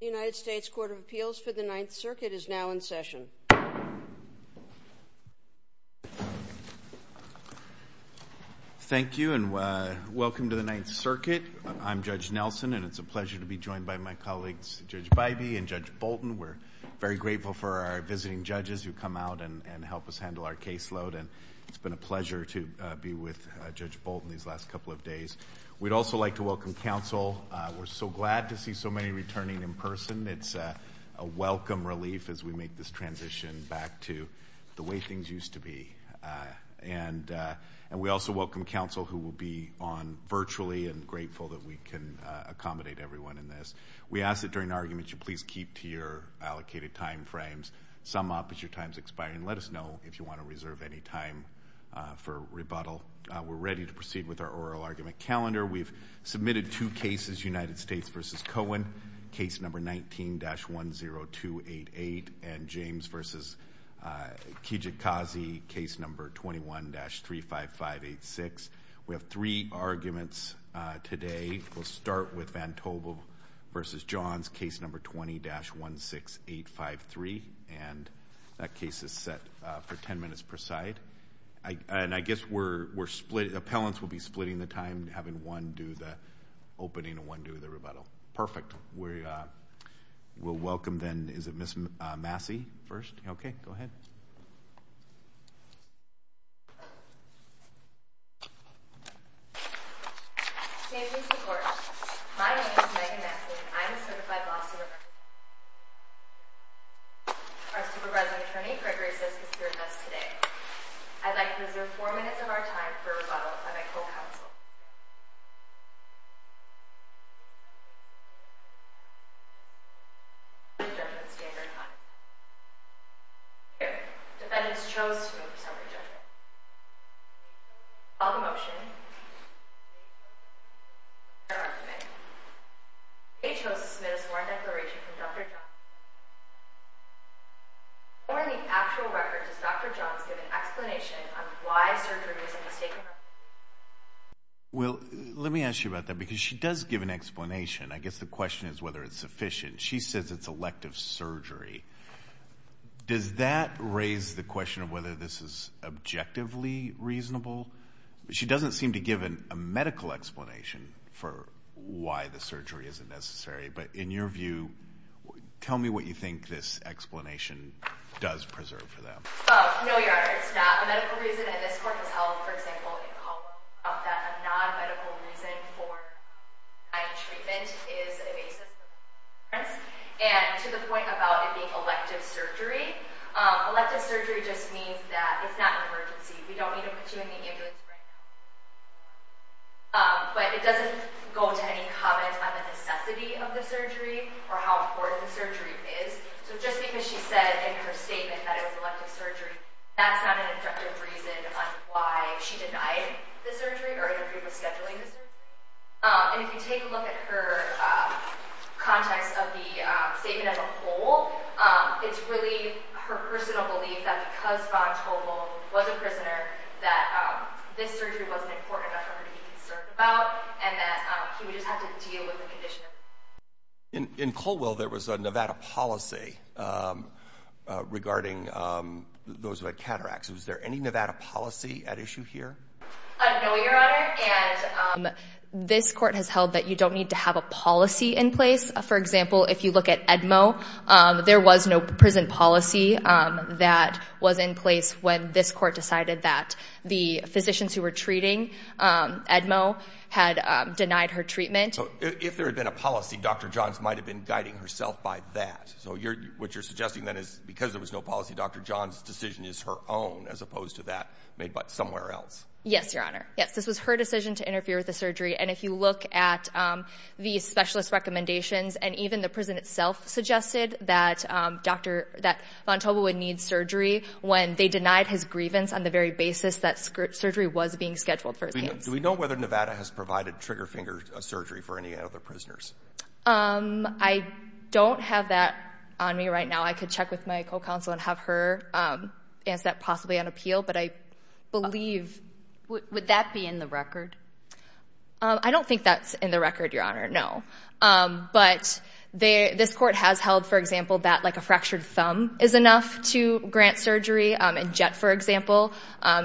The United States Court of Appeals for the Ninth Circuit is now in session. Thank you and welcome to the Ninth Circuit. I'm Judge Nelson and it's a pleasure to be joined by my colleagues, Judge Bivey and Judge Bolton. We're very grateful for our visiting judges who come out and help us handle our caseload and it's been a pleasure to be with Judge Bolton these last couple of days. We'd also like to welcome counsel. We're so glad to see so many returning in person. It's a welcome relief as we make this transition back to the way things used to be. And we also welcome counsel who will be on virtually and grateful that we can accommodate everyone in this. We ask that during arguments you please keep to your allocated time frames, sum up as your time is expiring, and let us know if you want to reserve any time for rebuttal. We're ready to proceed with our oral argument calendar. We've submitted two cases, United States v. Cohen, case number 19-10288, and James v. Kijikazi, case number 21-35586. We have three arguments today. We'll start with Vantobo v. Johns, case number 20-16853, and that case is set for ten minutes per side. And I guess we're split, appellants will be splitting the time, having one do the opening and one do the rebuttal. Perfect. We'll welcome then, is it Ms. Massey first? Okay. Go ahead. My name is Megan Massey. I'm a certified law student. Our supervising attorney, Gregory Sisk, is here with us today. I'd like to reserve four minutes of our time for rebuttal if I may co-counsel. Defendants chose to move to self-rejection. I'll call the motion. I'll read our argument. K chose to submit a sworn declaration from Dr. Johns. In the actual record, does Dr. Johns give an explanation on why surgery is a mistaken record? Well, let me ask you about that, because she does give an explanation. I guess the question is whether it's sufficient. She says it's elective surgery. Does that raise the question of whether this is objectively reasonable? She doesn't seem to give a medical explanation for why the surgery isn't necessary, but in what way? Tell me what you think this explanation does preserve for them. No, Your Honor. It's not a medical reason, and this court has held, for example, in college, that a non-medical reason for non-treatment is a basis of evidence, and to the point about it being elective surgery. Elective surgery just means that it's not an emergency. We don't need to put you in the ambulance right now. But it doesn't go to any comment on the necessity of the surgery or how important the surgery is. So just because she said in her statement that it was elective surgery, that's not an objective reason on why she denied the surgery or even who was scheduling the surgery. And if you take a look at her context of the statement as a whole, it's really her personal belief that because Von Tolwell was a prisoner, that this surgery wasn't important enough for her to be concerned about, and that he would just have to deal with the condition of the patient. In Colwell, there was a Nevada policy regarding those who had cataracts. Was there any Nevada policy at issue here? No, Your Honor, and this court has held that you don't need to have a policy in place. For example, if you look at Edmo, there was no prison policy that was in place when this court decided that the physicians who were treating Edmo had denied her treatment. So if there had been a policy, Dr. Johns might have been guiding herself by that. So what you're suggesting then is because there was no policy, Dr. Johns' decision is her own as opposed to that made by somewhere else. Yes, Your Honor. Yes, this was her decision to interfere with the surgery, and if you look at the specialist recommendations and even the prison itself suggested that Von Tolwell would need surgery when they denied his grievance on the very basis that surgery was being scheduled for his case. Do we know whether Nevada has provided trigger finger surgery for any other prisoners? I don't have that on me right now. I could check with my co-counsel and have her answer that possibly on appeal, but I believe... Would that be in the record? I don't think that's in the record, Your Honor, no. But this court has held, for example, that a fractured thumb is enough to grant surgery. In Jett, for example,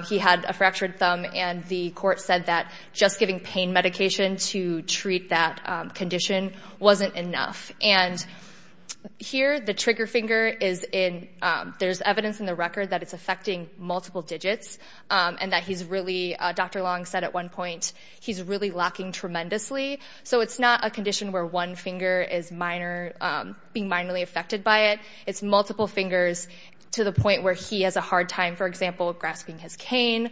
he had a fractured thumb and the court said that just giving pain medication to treat that condition wasn't enough. And here, the trigger finger is in... There's evidence in the record that it's affecting multiple digits and that he's really... Dr. Long said at one point, he's really lacking tremendously. So it's not a condition where one finger is being minorly affected by it. It's multiple fingers to the point where he has a hard time, for example, grasping his cane,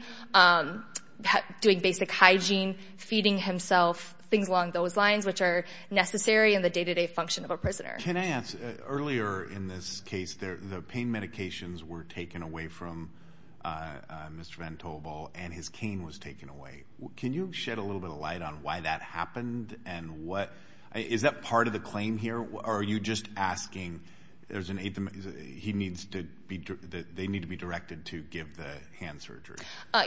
doing basic hygiene, feeding himself, things along those lines which are necessary in the day-to-day function of a prisoner. Can I ask, earlier in this case, the pain medications were taken away from Mr. Van Toewelbal and his cane was taken away. Can you shed a little bit of light on why that happened and what... Is that part of the claim here? Or are you just asking... They need to be directed to give the hand surgery?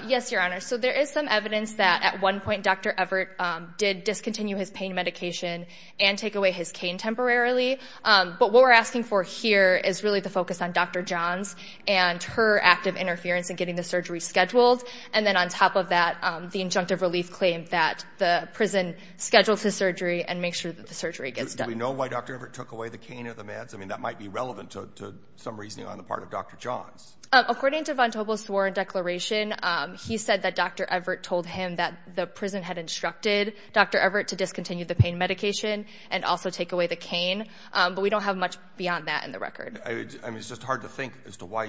Yes, Your Honor. So there is some evidence that at one point, Dr. Everett did discontinue his pain medication and take away his cane temporarily. But what we're asking for here is really the focus on Dr. Johns and her active interference in getting the surgery scheduled. And then on top of that, the injunctive relief claim that the prison scheduled his surgery and make sure that the surgery gets done. Do we know why Dr. Everett took away the cane or the meds? I mean, that might be relevant to some reasoning on the part of Dr. Johns. According to Van Toewelbal's sworn declaration, he said that Dr. Everett told him that the prison had instructed Dr. Everett to discontinue the pain medication and also take away the cane. But we don't have much beyond that in the record. I mean, it's just hard to think as to why...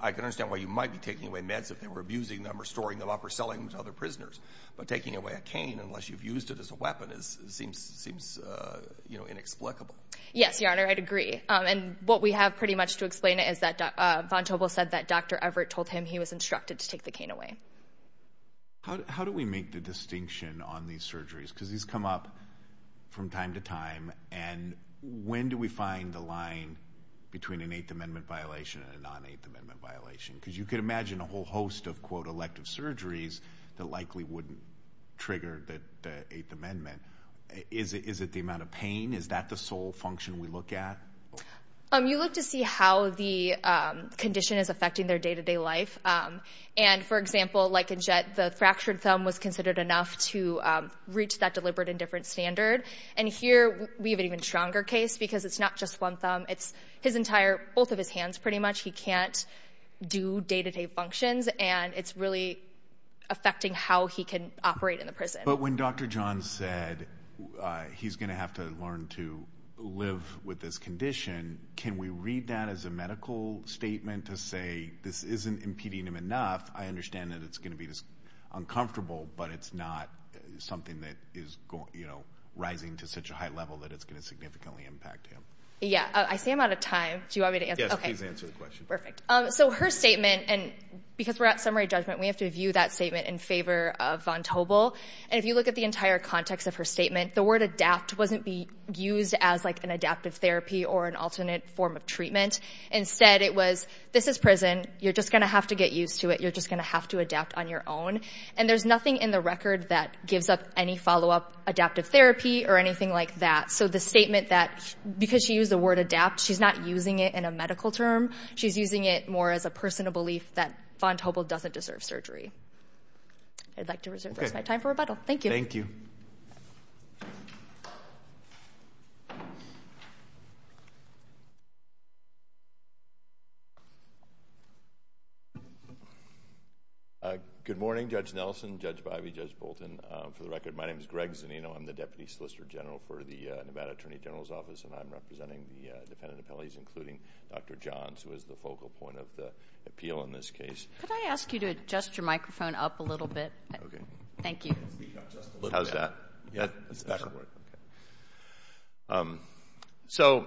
I can understand why you might be taking away meds if they were abusing them or storing them up or selling them to other prisoners. But taking away a cane unless you've used it as a weapon seems inexplicable. Yes, Your Honor, I'd agree. And what we have pretty much to explain it is that Van Toewelbal said that Dr. Everett told him he was instructed to take the cane away. How do we make the distinction on these surgeries? Because these come up from time to time. And when do we find the line between an Eighth Amendment violation and a non-Eighth Amendment violation? Because you can imagine a whole host of, quote, elective surgeries that likely wouldn't trigger the Eighth Amendment. Is it the amount of pain? Is that the sole function we look at? You look to see how the condition is affecting their day-to-day life. And, for example, like in Jet, the fractured thumb was considered enough to reach that deliberate and different standard. And here, we have an even stronger case because it's not just one thumb. It's his entire... Both of his hands, pretty much. He can't do day-to-day functions. And it's really affecting how he can operate in the prison. But when Dr. John said he's going to have to learn to live with this condition, can we read that as a medical statement to say this isn't impeding him enough? I understand that it's going to be uncomfortable, but it's not something that is rising to such a high level that it's going to significantly impact him. Yeah. I see I'm out of time. Do you want me to answer? Yes, please answer the question. Perfect. So her statement, and because we're at summary judgment, we have to view that statement in favor of Von Tobel. And if you look at the entire context of her statement, the word adapt wasn't used as an adaptive therapy or an alternate form of treatment. Instead, it was, this is prison. You're just going to have to get used to it. You're just going to have to adapt on your own. And there's nothing in the record that gives up any follow-up adaptive therapy or anything like that. So the statement that, because she used the word adapt, she's not using it in a medical term. She's using it more as a personal belief that Von Tobel doesn't deserve surgery. I'd like to reserve my time for rebuttal. Thank you. Thank you. Good morning, Judge Nelson, Judge Bivey, Judge Bolton. For the record, my name is Greg Zanino. I'm the Deputy Solicitor General for the Nevada Attorney General's Office, and I'm representing the dependent appellees, including Dr. Johns, who is the focal point of the appeal in this case. Could I ask you to adjust your microphone up a little bit? Okay. Thank you. Speak up just a little bit. How's that? That's better. Okay. So,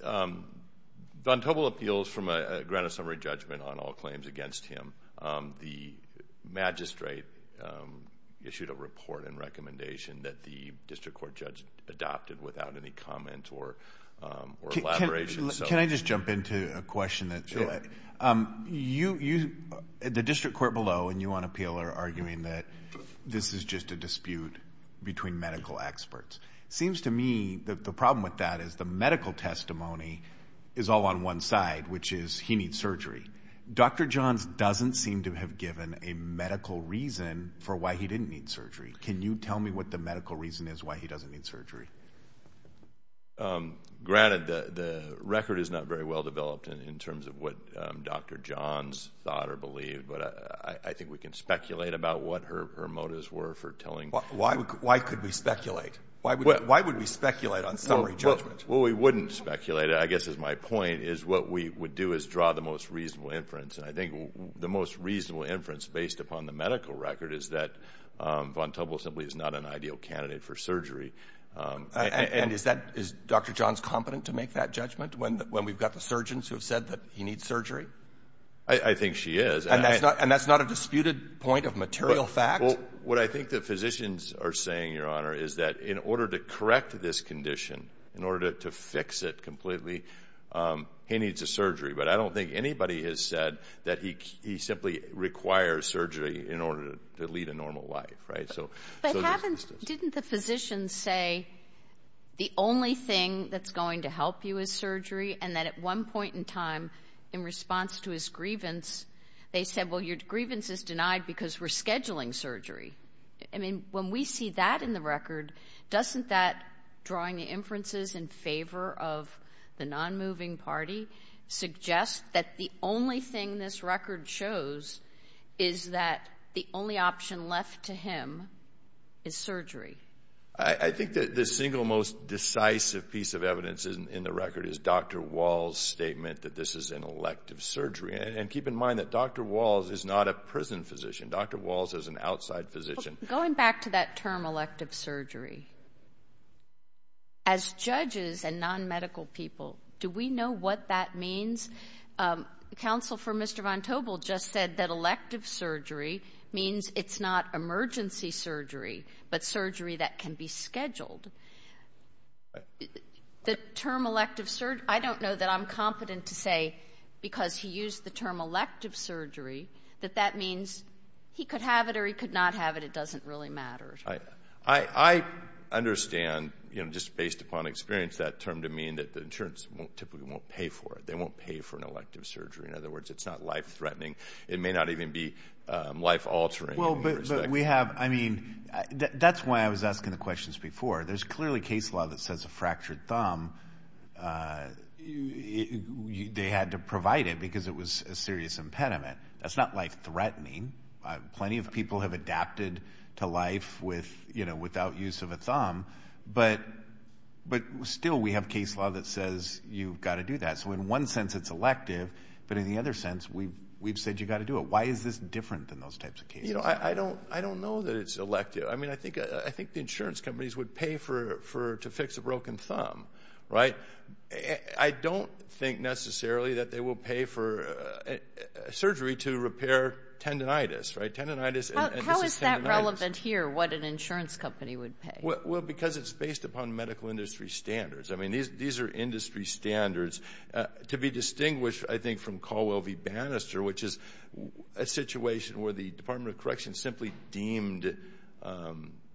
Von Tobel appeals from a grant of summary judgment on all claims against him. The magistrate issued a report and recommendation that the district court judge adopted without any comment or elaboration. Can I just jump into a question? Sure. The district court below and you on appeal are arguing that this is just a dispute between medical experts. It seems to me that the problem with that is the medical testimony is all on one side, which is he needs surgery. Dr. Johns doesn't seem to have given a medical reason for why he didn't need surgery. Can you tell me what the medical reason is why he doesn't need surgery? Granted, the record is not very well developed in terms of what Dr. Johns thought or believed, but I think we can speculate about what her motives were for telling. Why could we speculate? Why would we speculate on summary judgment? Well, we wouldn't speculate. I guess my point is what we would do is draw the most reasonable inference. I think the most reasonable inference based upon the medical record is that Von Tobel simply is not an ideal candidate for surgery. And is Dr. Johns competent to make that judgment when we've got the surgeons who have said that he needs surgery? I think she is. And that's not a disputed point of material fact? What I think the physicians are saying, Your Honor, is that in order to correct this condition, in order to fix it completely, he needs a surgery. But I don't think anybody has said that he simply requires surgery in order to lead a normal life. Didn't the physicians say the only thing that's going to help you is surgery? And that at one point in time, in response to his grievance, they said, Well, your grievance is denied because we're scheduling surgery. I mean, when we see that in the record, doesn't that drawing the inferences in favor of the non-moving party suggest that the only thing this record shows is that the only option left to him is surgery? I think that the single most decisive piece of evidence in the record is Dr. Wall's statement that this is an elective surgery. And keep in mind that Dr. Walls is not a prison physician. Dr. Walls is an outside physician. Going back to that term elective surgery, as judges and non-medical people, do we know what that means? Counsel for Mr. Vontobel just said that elective surgery means it's not emergency surgery, but surgery that can be scheduled. The term elective surgery, I don't know that I'm competent to say because he used the term elective surgery, that that means he could have it or he could not have it. It doesn't really matter. I understand, just based upon experience, that term to mean that the insurance typically won't pay for it. They won't pay for an elective surgery. In other words, it's not life-threatening. It may not even be life-altering. Well, but we have, I mean, that's why I was asking the questions before. There's clearly case law that says a fractured thumb, they had to provide it because it was a serious impediment. That's not life-threatening. Plenty of people have adapted to life without use of a thumb. But still, we have case law that says you've got to do that. So in one sense, it's elective, but in the other sense, we've said you've got to do it. Why is this different than those types of cases? I don't know that it's elective. I mean, I think the insurance companies would pay to fix a broken thumb. Right? I don't think necessarily that they will pay for surgery to repair tendonitis. Right? Tendonitis and this is tendonitis. How is that relevant here, what an insurance company would pay? Well, because it's based upon medical industry standards. I mean, these are industry standards. To be distinguished, I think, from Colwell v. Bannister, which is a situation where the Department of Corrections simply deemed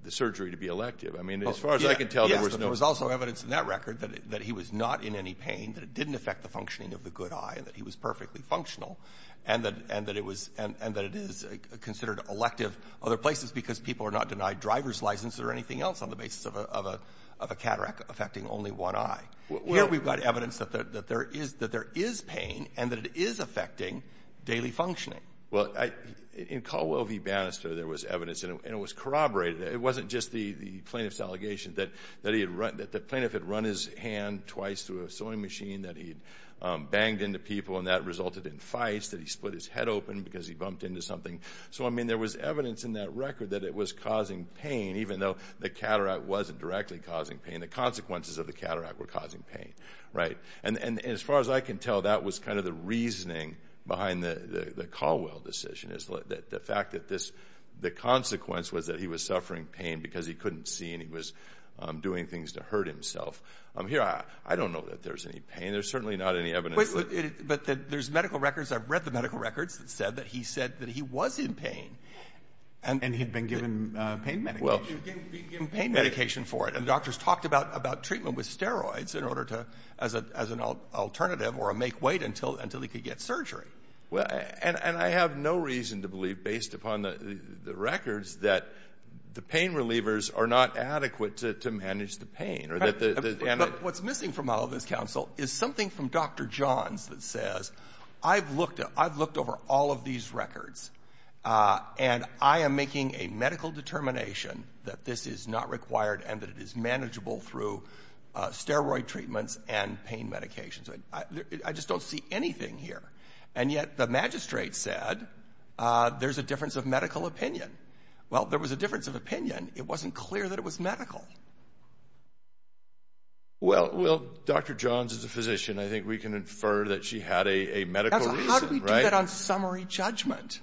the surgery to be elective. I mean, as far as I can tell, there was no... There was no record that he was not in any pain, that it didn't affect the functioning of the good eye and that he was perfectly functional and that it is considered elective other places because people are not denied driver's license or anything else on the basis of a cataract affecting only one eye. Here, we've got evidence that there is pain and that it is affecting daily functioning. Well, in Colwell v. Bannister, there was evidence and it was corroborated. It wasn't just the plaintiff's allegation that the plaintiff had run his hand twice through a sewing machine that he'd banged into people and that resulted in fights, that he split his head open because he bumped into something. So, I mean, there was evidence in that record that it was causing pain, even though the cataract wasn't directly causing pain. The consequences of the cataract were causing pain, right? And as far as I can tell, that was kind of the reasoning behind the Colwell decision, the fact that the consequence was that he was suffering pain because he couldn't see and he was doing things to hurt himself. Here, I don't know that there's any pain. There's certainly not any evidence. But there's medical records. I've read the medical records that said that he said that he was in pain. And he'd been given pain medication. Well, he'd been given pain medication for it. And doctors talked about treatment with steroids in order to, as an alternative, or make wait until he could get surgery. And I have no reason to believe, based upon the records, that the pain relievers are not adequate to manage the pain. But what's missing from all of this, counsel, is something from Dr. Johns that says, I've looked over all of these records. And I am making a medical determination that this is not required and that it is manageable through steroid treatments and pain medications. I just don't see anything here. And yet the magistrate said, there's a difference of medical opinion. Well, there was a difference of opinion. It wasn't clear that it was medical. Well, Dr. Johns is a physician. I think we can infer that she had a medical reason. How do we do that on summary judgment?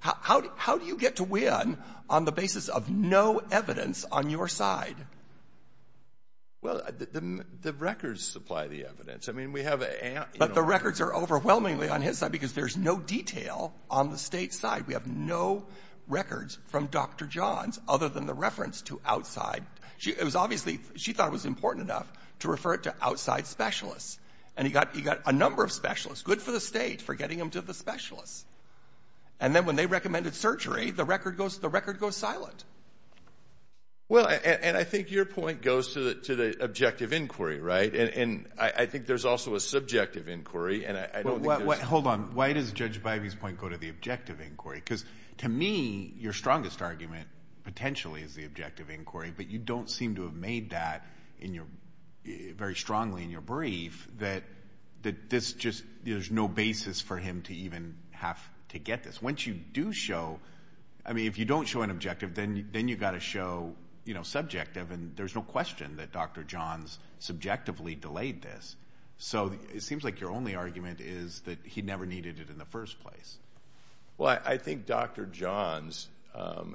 How do you get to win on the basis of no evidence on your side? Well, the records supply the evidence. But the records are overwhelmingly on his side because there's no detail on the state's side. We have no records from Dr. Johns other than the reference to outside... It was obviously... She thought it was important enough to refer it to outside specialists. And he got a number of specialists. Good for the state for getting him to the specialists. And then when they recommended surgery, the record goes silent. Well, and I think your point goes to the objective inquiry, right? And I think there's also a subjective inquiry. Hold on. Why does Judge Bivey's point go to the objective inquiry? Because to me, your strongest argument potentially is the objective inquiry. But you don't seem to have made that very strongly in your brief that there's no basis for him to even have to get this. Once you do show... I mean, if you don't show an objective, then you've got to show subjective. And there's no question that Dr. Johns subjectively delayed this. So it seems like your only argument is that he never needed it in the first place. Well, I think Dr. Johns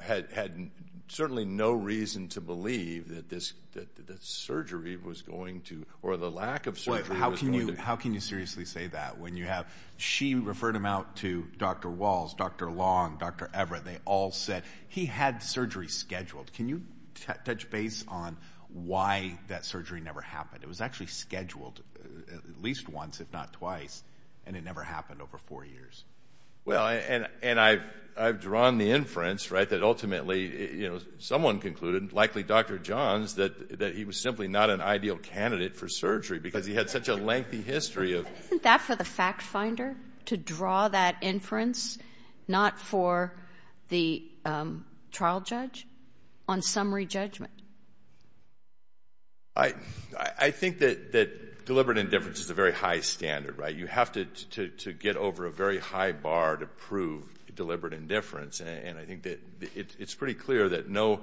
had certainly no reason to believe that this surgery was going to... Or the lack of surgery was going to... How can you seriously say that when you have... She referred him out to Dr. Walls, Dr. Long, Dr. Everett. They all said he had surgery scheduled. Can you touch base on why that surgery never happened? It was actually scheduled at least once, if not twice, and it never happened over four years. Well, and I've drawn the inference, right, that ultimately, you know, someone concluded, likely Dr. Johns, that he was simply not an ideal candidate for surgery because he had such a lengthy history of... Isn't that for the fact-finder to draw that inference, not for the trial judge, on summary judgment? I think that deliberate indifference is a very high standard, right? You have to get over a very high bar to prove deliberate indifference, and I think that it's pretty clear that no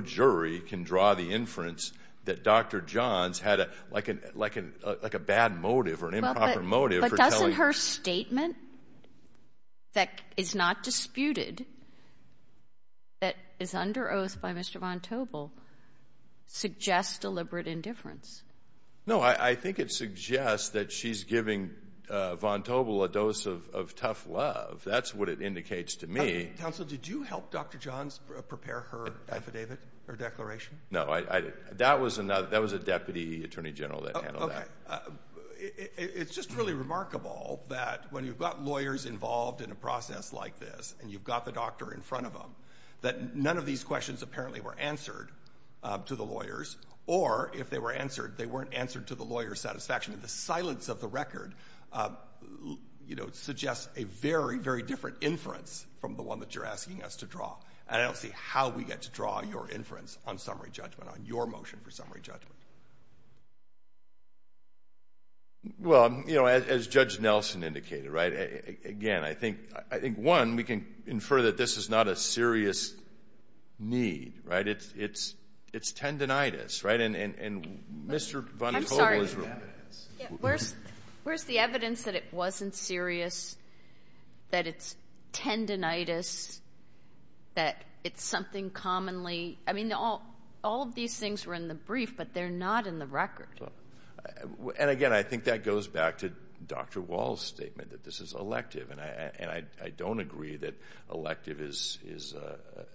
jury can draw the inference that Dr. Johns had, like, a bad motive or an improper motive for telling... But doesn't her statement, that is not disputed, that is under oath by Mr. Von Trapp, suggest deliberate indifference? No, I think it suggests that she's giving Von Trapp a dose of tough love. That's what it indicates to me. Counsel, did you help Dr. Johns prepare her affidavit, her declaration? No, I... That was a deputy attorney general that handled that. Okay. It's just really remarkable that when you've got lawyers involved in a process like this, and you've got the doctor in front of them, that none of these questions apparently were answered to the lawyers, or if they were answered, they weren't answered to the lawyer's satisfaction. And the silence of the record, you know, suggests a very, very different inference from the one that you're asking us to draw. And I don't see how we get to draw your inference on summary judgment, on your motion for summary judgment. Well, you know, as Judge Nelson indicated, right, again, I think, one, we can infer that this is not a serious need, right? It's tendinitis, right? And Mr. Von Togler's... I'm sorry. Where's the evidence that it wasn't serious, that it's tendinitis, that it's something commonly... I mean, all of these things were in the brief, but they're not in the record. And again, I think that goes back to Dr. Wall's statement, that this is elective. And I don't agree that elective is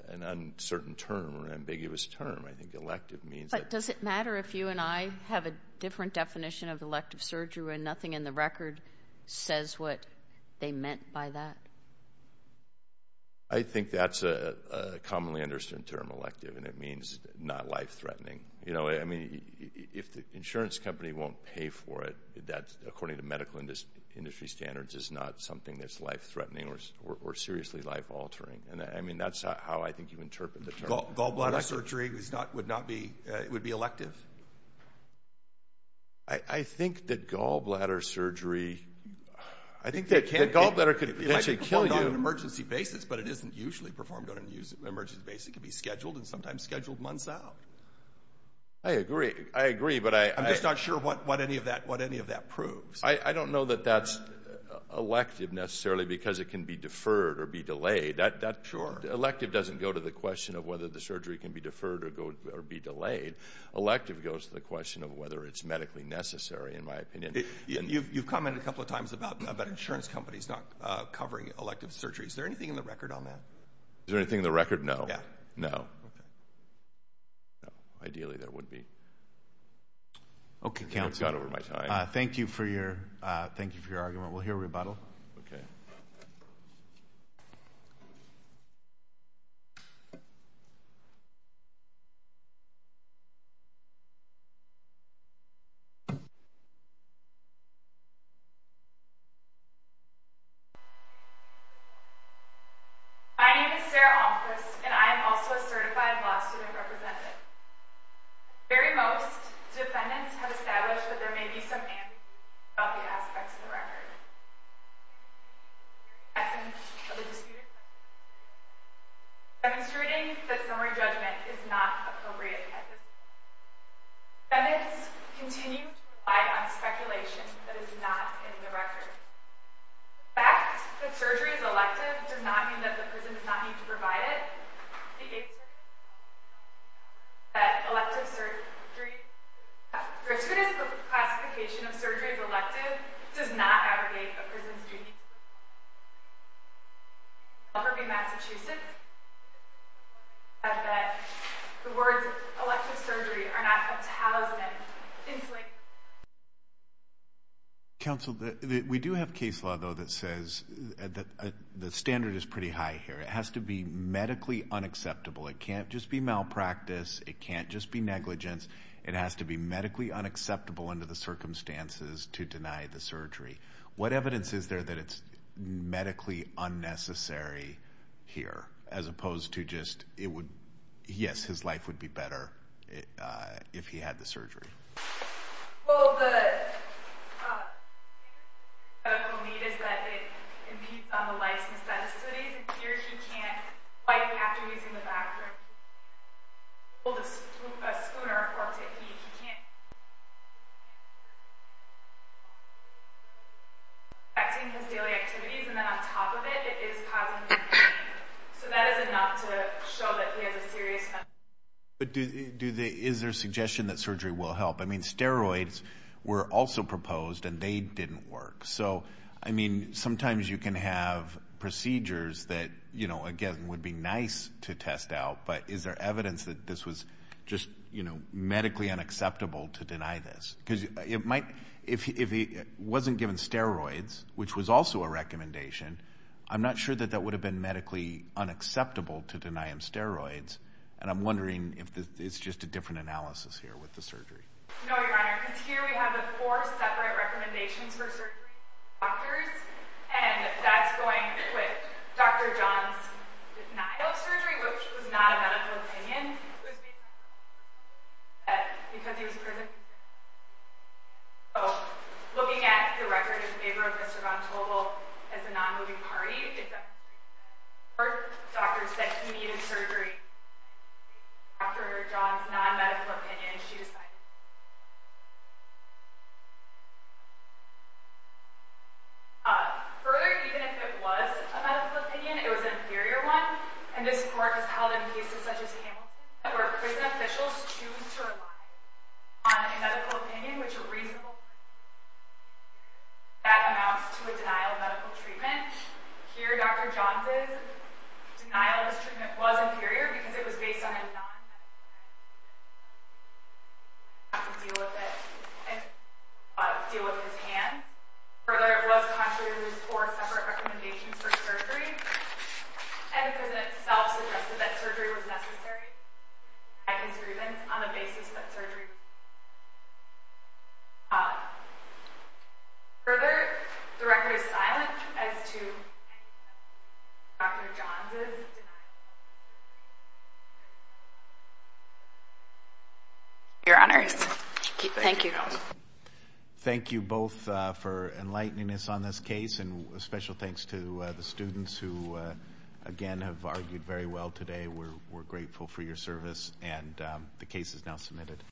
an uncertain term or an ambiguous term. I think elective means that... But does it matter if you and I have a different definition of elective surgery when nothing in the record says what they meant by that? I think that's a commonly understood term, elective, and it means not life-threatening. You know, I mean, if the insurance company won't pay for it, that, according to medical industry standards, is not something that's life-threatening or seriously life-altering. I mean, that's how I think you interpret the term. Gallbladder surgery would be elective? I think that gallbladder surgery... I think that gallbladder could potentially kill you. It might be performed on an emergency basis, but it isn't usually performed on an emergency basis. It can be scheduled and sometimes scheduled months out. I agree, but I... I'm just not sure what any of that proves. I don't know that that's elective, necessarily, because it can be deferred or be delayed. Sure. Elective doesn't go to the question of whether the surgery can be deferred or be delayed. Elective goes to the question of whether it's medically necessary, in my opinion. You've commented a couple of times about insurance companies not covering elective surgery. Is there anything in the record on that? Is there anything in the record? No. No. No. Ideally, there would be. Okay, counsel. Thank you for your argument. Okay. Thank you. My name is Sarah Almquist, and I am also a certified law student representative. At the very most, defendants have established that there may be some ambiguity about the aspects of the record. There may be some ambiguity about the essence of the disputed record. There may be some ambiguity demonstrating that summary judgment is not appropriate at this point. Defendants continue to rely on speculation that is not in the record. The fact that surgery is elective does not mean that the prison The fact that elective surgery does not mean that the prison does not need to provide it. The fact that elective surgery does not mean that the prison does not need to provide it. The fact that the words elective surgery are not a thousand and inflated. Counsel, we do have case law, though, that says the standard is pretty high here. It has to be medically unacceptable. It can't just be malpractice. It can't just be negligence. It has to be medically unacceptable under the circumstances to deny the surgery. What evidence is there that it's medically unnecessary here, as opposed to just yes, his life would be better if he had the surgery? Well, the medical need is that it impedes on the life's necessities. Here, he can't quite, after he's in the back room, he can't hold a spoon or a fork to eat. He can't do his daily activities and then on top of it, it is causing pain. So that is enough to show that he has a serious medical need. Is there a suggestion that surgery will help? Steroids were also proposed and they didn't work. Sometimes you can have procedures that, again, would be nice to test out, but is there evidence that this was just medically unacceptable to deny this? If he wasn't given steroids, which was also a recommendation, I'm not sure that that would have been medically unacceptable to deny him steroids, and I'm wondering if it's just a different analysis here with the surgery. Here we have the four separate recommendations for surgery and that's going with Dr. John's denial of surgery, which was not a medical opinion. Looking at the record in favor of Mr. Von Togel as a non-moving party, the doctor said he needed surgery. Dr. John's non-medical opinion and she decided to deny it. Further, even if it was a medical opinion, it was an inferior one, and this court has held in cases such as Hamilton where prison officials choose to rely on a medical opinion which is a reasonable one. That amounts to a denial of medical treatment. Here, Dr. John's denial of this treatment was inferior because it was based on a non-medical opinion. Not to deal with it by his hand. Further, it was contrary to his four separate recommendations for surgery and the president himself suggested that surgery was necessary to fight his grievance on the basis that surgery was needed. Further, the record is silent as to Dr. John's denial of surgery. Your honors. Thank you. Thank you both for enlightening us on this case and a special thanks to the students who again have argued very well today. We're grateful for your service and the case is now submitted.